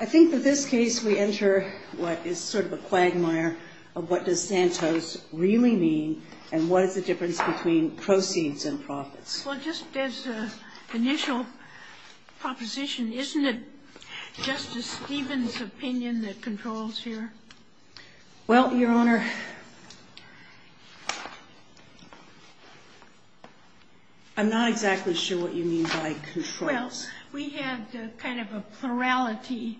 I think that this case we enter what is sort of a quagmire of what does Santos really mean and what is the difference between proceeds and profits. Well just as an initial proposition, isn't it Justice Stevens' opinion that controls here? Well, Your Honor, I'm not exactly sure what you mean by controls. Well, we had kind of a plurality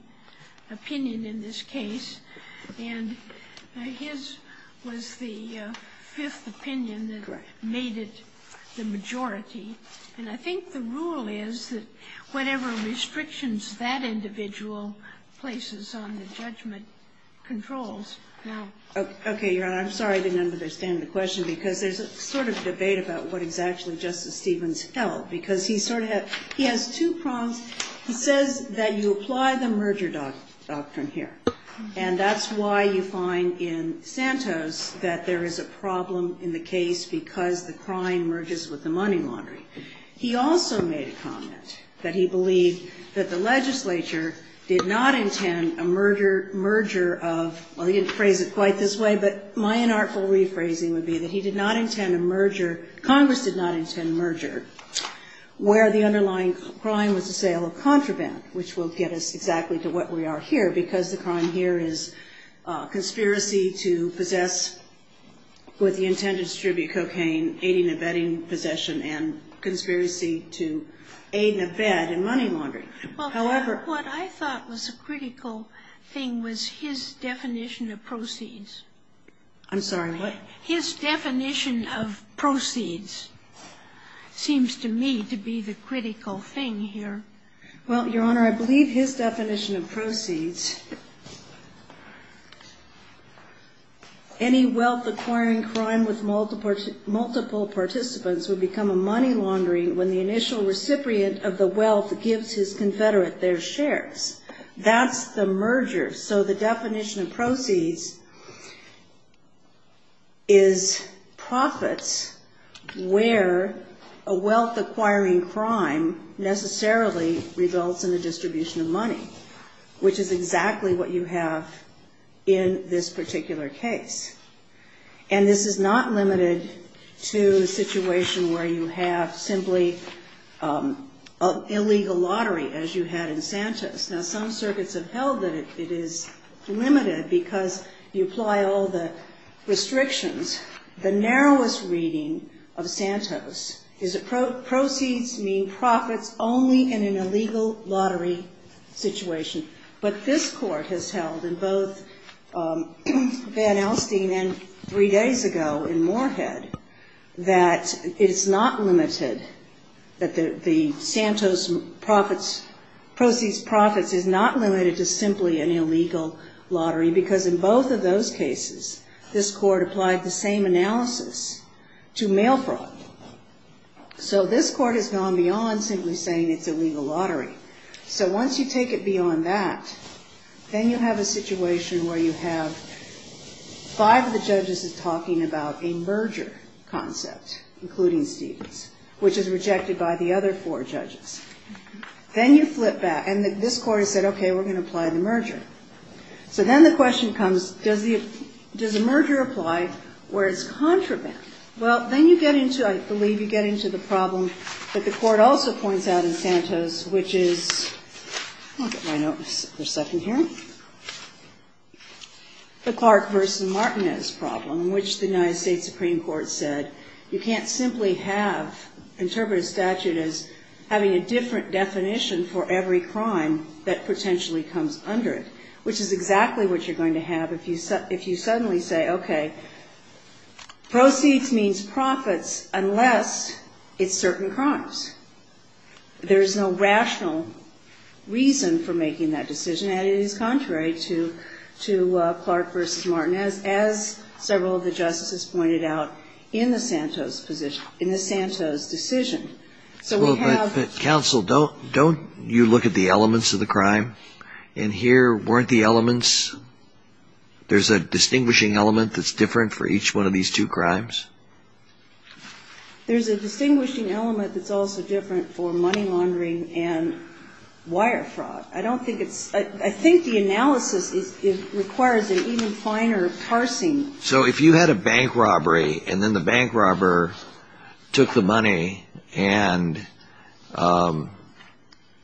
opinion in this case and his was the fifth opinion that made it the majority. And I think the rule is that whatever restrictions that individual places on the judgment controls. Okay, Your Honor, I'm sorry I didn't understand the question because there's a sort of debate about what exactly Justice Stevens held because he sort of has two prongs. He says that you apply the merger doctrine here and that's why you find in Santos that there is a problem in the case because the crime merges with the money laundry. He also made a comment that he believed that the legislature did not intend a merger of, well he didn't phrase it quite this way, but my inartful rephrasing would be that he did not intend merger where the underlying crime was the sale of contraband, which will get us exactly to what we are here because the crime here is conspiracy to possess with the intent to distribute cocaine, aiding and abetting possession, and conspiracy to aid and abet in money laundry. Well, what I thought was a critical thing was his definition of proceeds. I'm sorry, what? His definition of proceeds seems to me to be the critical thing here. Well, Your Honor, I believe his definition of proceeds, any wealth acquiring crime with multiple participants would become a money laundry when the initial recipient of the wealth gives his confederate their shares. That's the merger. So the definition of proceeds is profits where a wealth acquiring crime necessarily results in the distribution of money, which is exactly what you have in this particular case. And this is not limited to a situation where you have simply an illegal lottery as you had in Santos. Now some circuits have held that it is limited because you apply all the restrictions. The narrowest reading of Santos is that proceeds mean profits only in an illegal lottery situation. But this court has held in both Van Alstyne and three days ago in Moorhead that it is not limited, that the Santos proceeds profits is not limited to simply an illegal lottery because in both of those cases, this court applied the same analysis to mail fraud. So this court has gone beyond simply saying it's an illegal lottery. So once you take it beyond that, then you have a situation where you have five of the judges is talking about a merger concept, including Stevens, which is rejected by the other four judges. Then you flip back and this court has said, okay, we're going to apply the merger where it's contraband. Well, then you get into, I believe, you get into the problem that the court also points out in Santos, which is, I'll get my note for a second here, the Clark versus Martinez problem, which the United States Supreme Court said you can't simply have interpreted statute as having a different definition for every crime that potentially comes under it, which is you suddenly say, okay, proceeds means profits unless it's certain crimes. There's no rational reason for making that decision and it is contrary to Clark versus Martinez, as several of the justices pointed out in the Santos position, in the Santos decision. So we have- Counsel, don't you look at the elements of the crime? In here, weren't the distinguishing element that's different for each one of these two crimes? There's a distinguishing element that's also different for money laundering and wire fraud. I don't think it's, I think the analysis requires an even finer parsing. So if you had a bank robbery and then the bank robber took the money and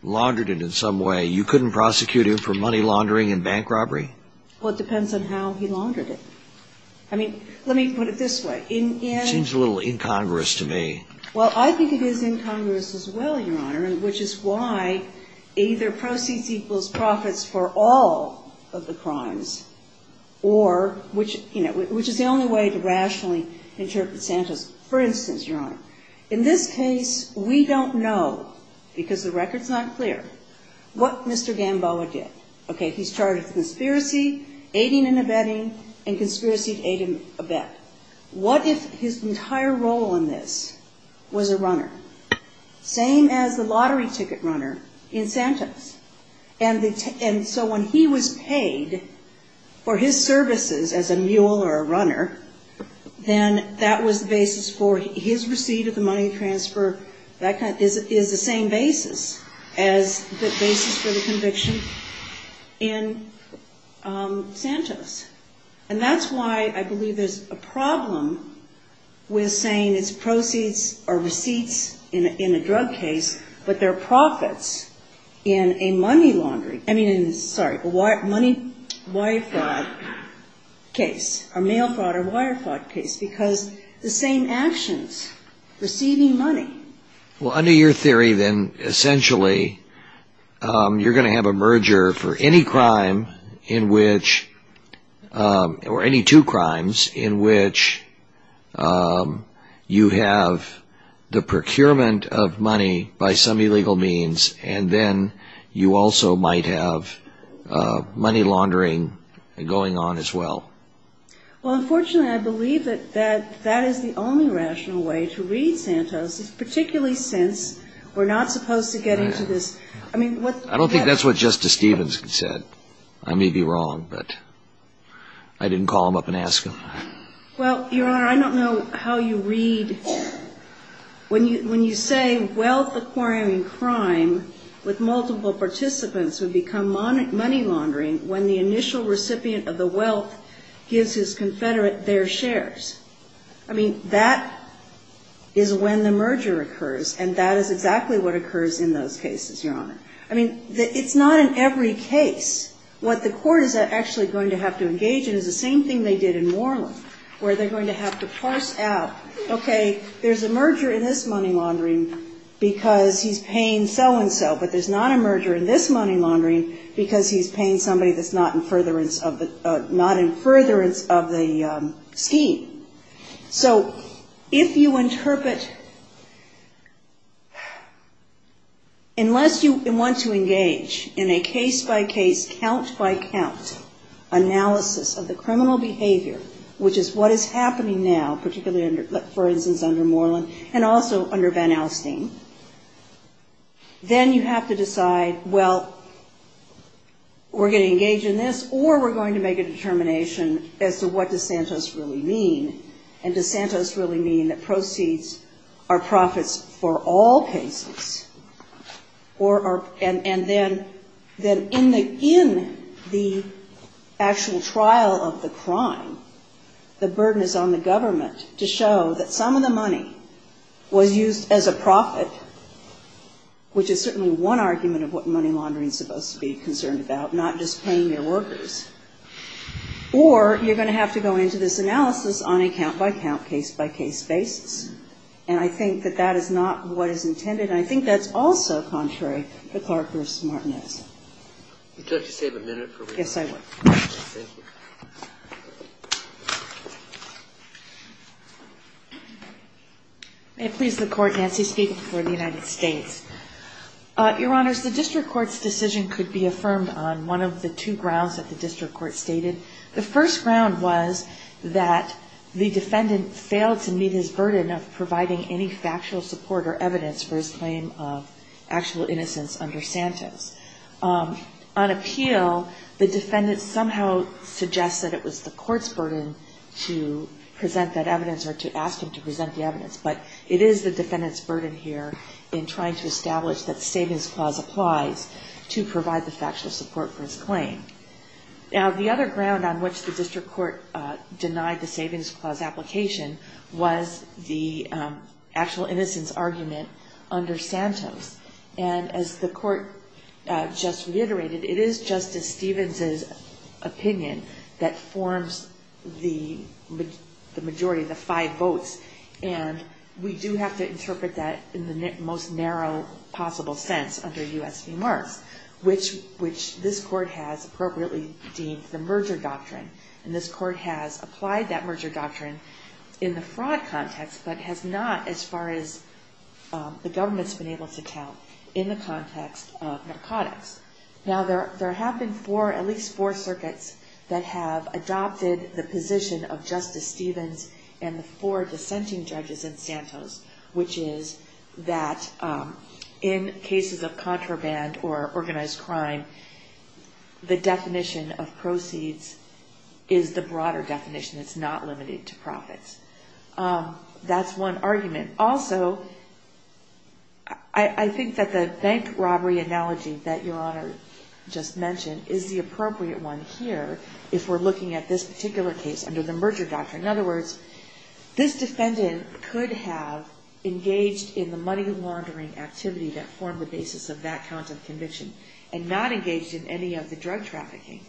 laundered it in some way, you couldn't prosecute him for money laundering and bank robbery? Well, it depends on how he laundered it. I mean, let me put it this way. It seems a little incongruous to me. Well, I think it is incongruous as well, Your Honor, which is why either proceeds equals profits for all of the crimes or, which is the only way to rationally interpret Santos. For instance, Your Honor, in this case, we don't know, because the record's not clear, what Mr. Gamboa did. Okay, he's charged with conspiracy, aiding and abetting, and conspiracy to aid and abet. What if his entire role in this was a runner? Same as the lottery ticket runner in Santos. And so when he was paid for his services as a mule or a runner, then that was the basis for his receipt of the money transfer. That is the same basis as the basis for the conviction in Santos. And that's why I believe there's a problem with saying it's proceeds or receipts in a drug case, but they're profits in a money laundering, I mean, sorry, money wire fraud case, or mail fraud or wire money. Well, under your theory, then, essentially, you're going to have a merger for any crime in which, or any two crimes in which you have the procurement of money by some illegal means, and then you also might have money laundering going on as well. Well, unfortunately, I believe that that particularly since we're not supposed to get into this. I mean, what I don't think that's what Justice Stevens said. I may be wrong, but I didn't call him up and ask him. Well, Your Honor, I don't know how you read. When you when you say wealth acquiring crime with multiple participants would become money money laundering when the initial recipient of the wealth gives his confederate their shares. I mean, that is when the merger occurs, and that is exactly what occurs in those cases, Your Honor. I mean, it's not in every case. What the court is actually going to have to engage in is the same thing they did in Moreland, where they're going to have to parse out, okay, there's a merger in this money laundering because he's paying so-and-so, but there's not a merger in this money laundering because he's paying somebody that's not in furtherance of the scheme. So if you interpret, unless you want to engage in a case by case, count by count analysis of the criminal behavior, which is what is happening now, particularly under, for instance, under Moreland and also under Van Alstyne, then you have to decide, well, we're going to engage in this or we're going to make a determination as to what does Santos really mean, and does Santos really mean that proceeds are profits for all cases? And then in the actual trial of the crime, the burden is on the government to show that some of the money was used as a profit, which is certainly one argument of what money laundering is supposed to be concerned about, not just paying their Or you're going to have to go into this analysis on a count by count, case by case basis, and I think that that is not what is intended, and I think that's also contrary to Clark v. Martinez. Would you like to save a minute for rebuttal? Yes, I would. Thank you. May it please the Court, Nancy Skeet for the United States. Your Honors, the district court's decision could be affirmed on one of the two grounds that the district court stated. The first ground was that the defendant failed to meet his burden of providing any factual support or evidence for his claim of actual innocence under Santos. On appeal, the defendant somehow suggests that it was the court's burden to present that evidence or to ask him to present the evidence, but it is the defendant's burden here in trying to establish that the Savings Clause applies to provide the factual support for his claim. Now, the other ground on which the district court denied the Savings Clause application was the actual innocence argument under Santos. And as the court just reiterated, it is Justice Stevens' opinion that forms the majority, the five votes, and we do have to interpret that in the most narrow possible sense under U.S. remarks, which this court has appropriately deemed the merger doctrine. And this court has applied that merger doctrine in the fraud context, but has not, as far as the government's been able to tell, in the context of narcotics. Now, there have been at least four circuits that have adopted the position of Justice Stevens and the four dissenting judges in Santos, which is that in cases of contraband or organized crime, the definition of proceeds is the broader definition. It's not limited to profits. That's one argument. Also, I think that the bank robbery analogy that Your Honor just mentioned is the appropriate one here if we're looking at this particular case under the merger doctrine. In other words, this defendant could have engaged in the money laundering activity that formed the basis of that count of conviction, and not engaged in any of the drug trafficking.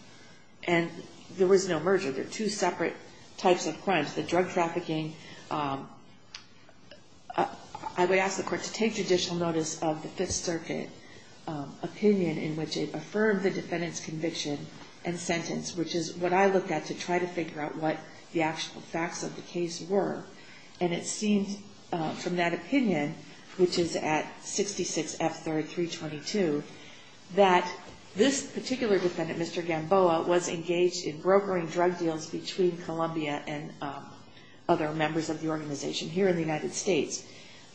And there was no merger. There are two separate types of crimes. The drug trafficking, I would ask the court to take judicial notice of the Fifth Circuit opinion in which it affirmed the defendant's conviction and sentence, which is what I looked at to try to figure out what the actual facts of the case were. And it seemed from that opinion, which is at 66F322, that this particular defendant, Mr. Gamboa, was engaged in brokering drug deals between Columbia and other members of the organization here in the United States.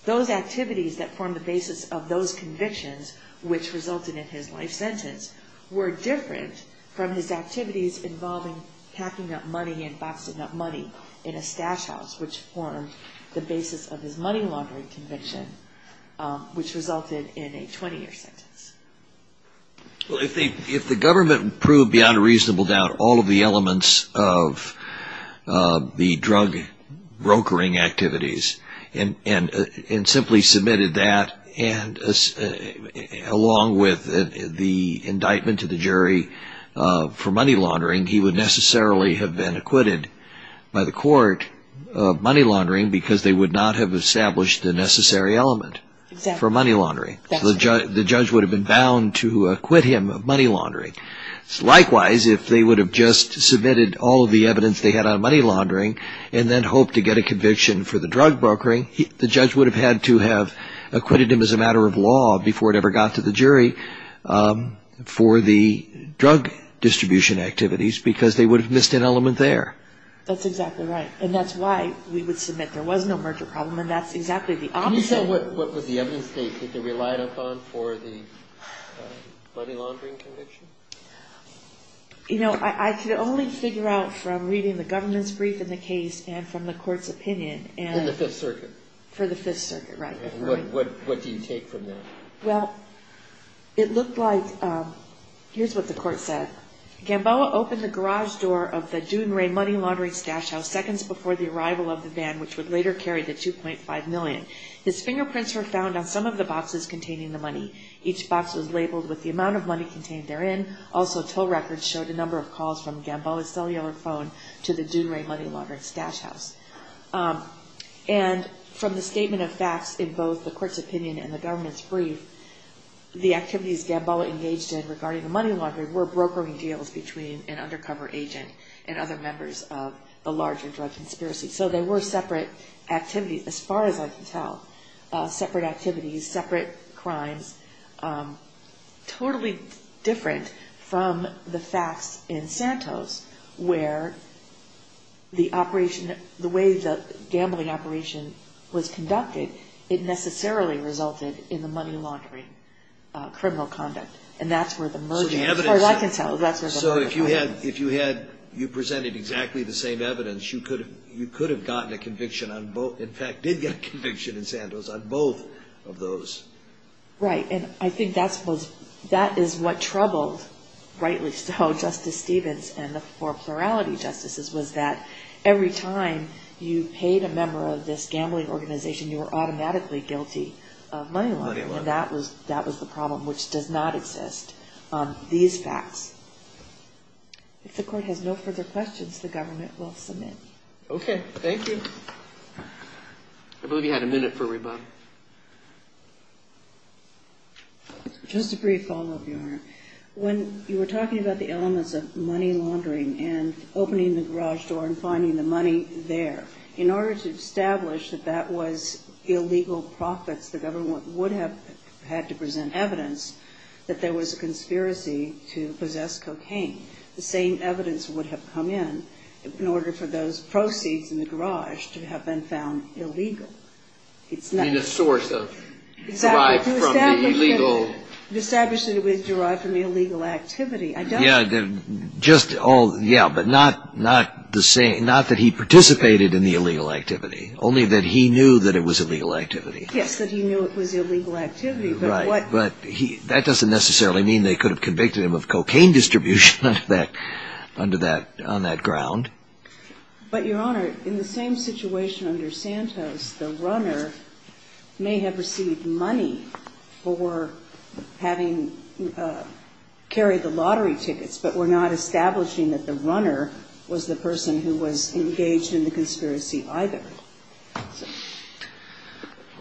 Those activities that formed the basis of those convictions, which resulted in his life sentence, were different from his activities involving packing up money and boxing up money in a stash house, which formed the basis of his money laundering conviction, which resulted in a 20-year sentence. Well, if the government proved beyond a reasonable doubt all of the elements of the drug brokering activities and simply submitted that, along with the indictment to the jury for money laundering, he would necessarily have been acquitted by the court of money laundering because they would not have established the necessary element for money laundering. The judge would have been bound to acquit him of money laundering. Likewise, if they would have just submitted all of the evidence they had on money laundering and then hoped to get a conviction for the drug brokering, the judge would have had to have acquitted him as a matter of law before it ever got to the jury for the drug distribution activities because they would have missed an element there. That's exactly right. And that's why we would submit there was no merger problem. And that's exactly the opposite of what was the evidence that they relied upon for the money laundering conviction. You know, I could only figure out from reading the government's brief in the case and from the court's opinion and the Fifth Circuit For the Fifth Circuit, right. And what do you take from that? Well, it looked like, here's what the court said. Gamboa opened the garage door of the Doon Ray Money Laundering Stash House seconds before the arrival of the van, which would later carry the $2.5 million. His fingerprints were found on some of the boxes containing the money. Each box was labeled with the amount of money contained therein. Also, toll records showed a number of calls from Gamboa's From the statement of facts in both the court's opinion and the government's brief, the activities Gamboa engaged in regarding the money laundering were brokering deals between an undercover agent and other members of the larger drug conspiracy. So they were separate activities, as far as I can tell. Separate activities, separate crimes. Totally different from the facts in Santos, where the operation, the way the gambling operation was conducted, it necessarily resulted in the money laundering criminal conduct. And that's where the merger, as far as I can tell, that's where the merger So if you had, if you had, you presented exactly the same evidence, you could have, you could have gotten a conviction on both. In fact, did get a conviction in Santos on both of those. Right. And I think that's what's, that is what troubled, rightly so, Justice Stevens and the four plurality justices, was that every time you paid a member of this gambling organization, you were automatically guilty of money laundering. And that was, that was the problem, which does not exist. These facts. If the court has no further questions, the government will submit. Okay. Thank you. I believe you had a minute for rebuttal. Just a brief follow up, When you were talking about the elements of money laundering and opening the garage door and finding the money there, in order to establish that that was illegal profits, the government would have had to present evidence that there was a conspiracy to possess cocaine. The same evidence would have come in, in order for those proceeds in the garage to have been found illegal. It's not a source of, derived from the illegal, established that it was derived from the illegal activity. Yeah. Just all. Yeah. But not, not the same. Not that he participated in the illegal activity, only that he knew that it was illegal activity. Yes. That he knew it was illegal activity. Right. But that doesn't necessarily mean they could have convicted him of cocaine distribution under that, on that ground. But Your Honor, in the same situation under Santos, the runner may have received money for having carried the lottery tickets, but we're not establishing that the runner was the person who was engaged in the conspiracy either.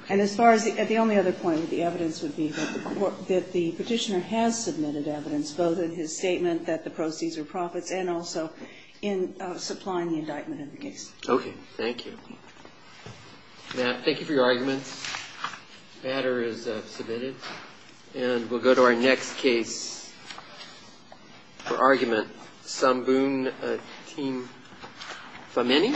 And as far as the, the only other point that the evidence would be that the petitioner has submitted evidence, both in his statement that the proceeds are profits and also in supplying the indictment in the case. Okay. Thank you. Matt, thank you for your arguments. The matter is submitted and we'll go to our next case for argument. Samboon, team Femeni.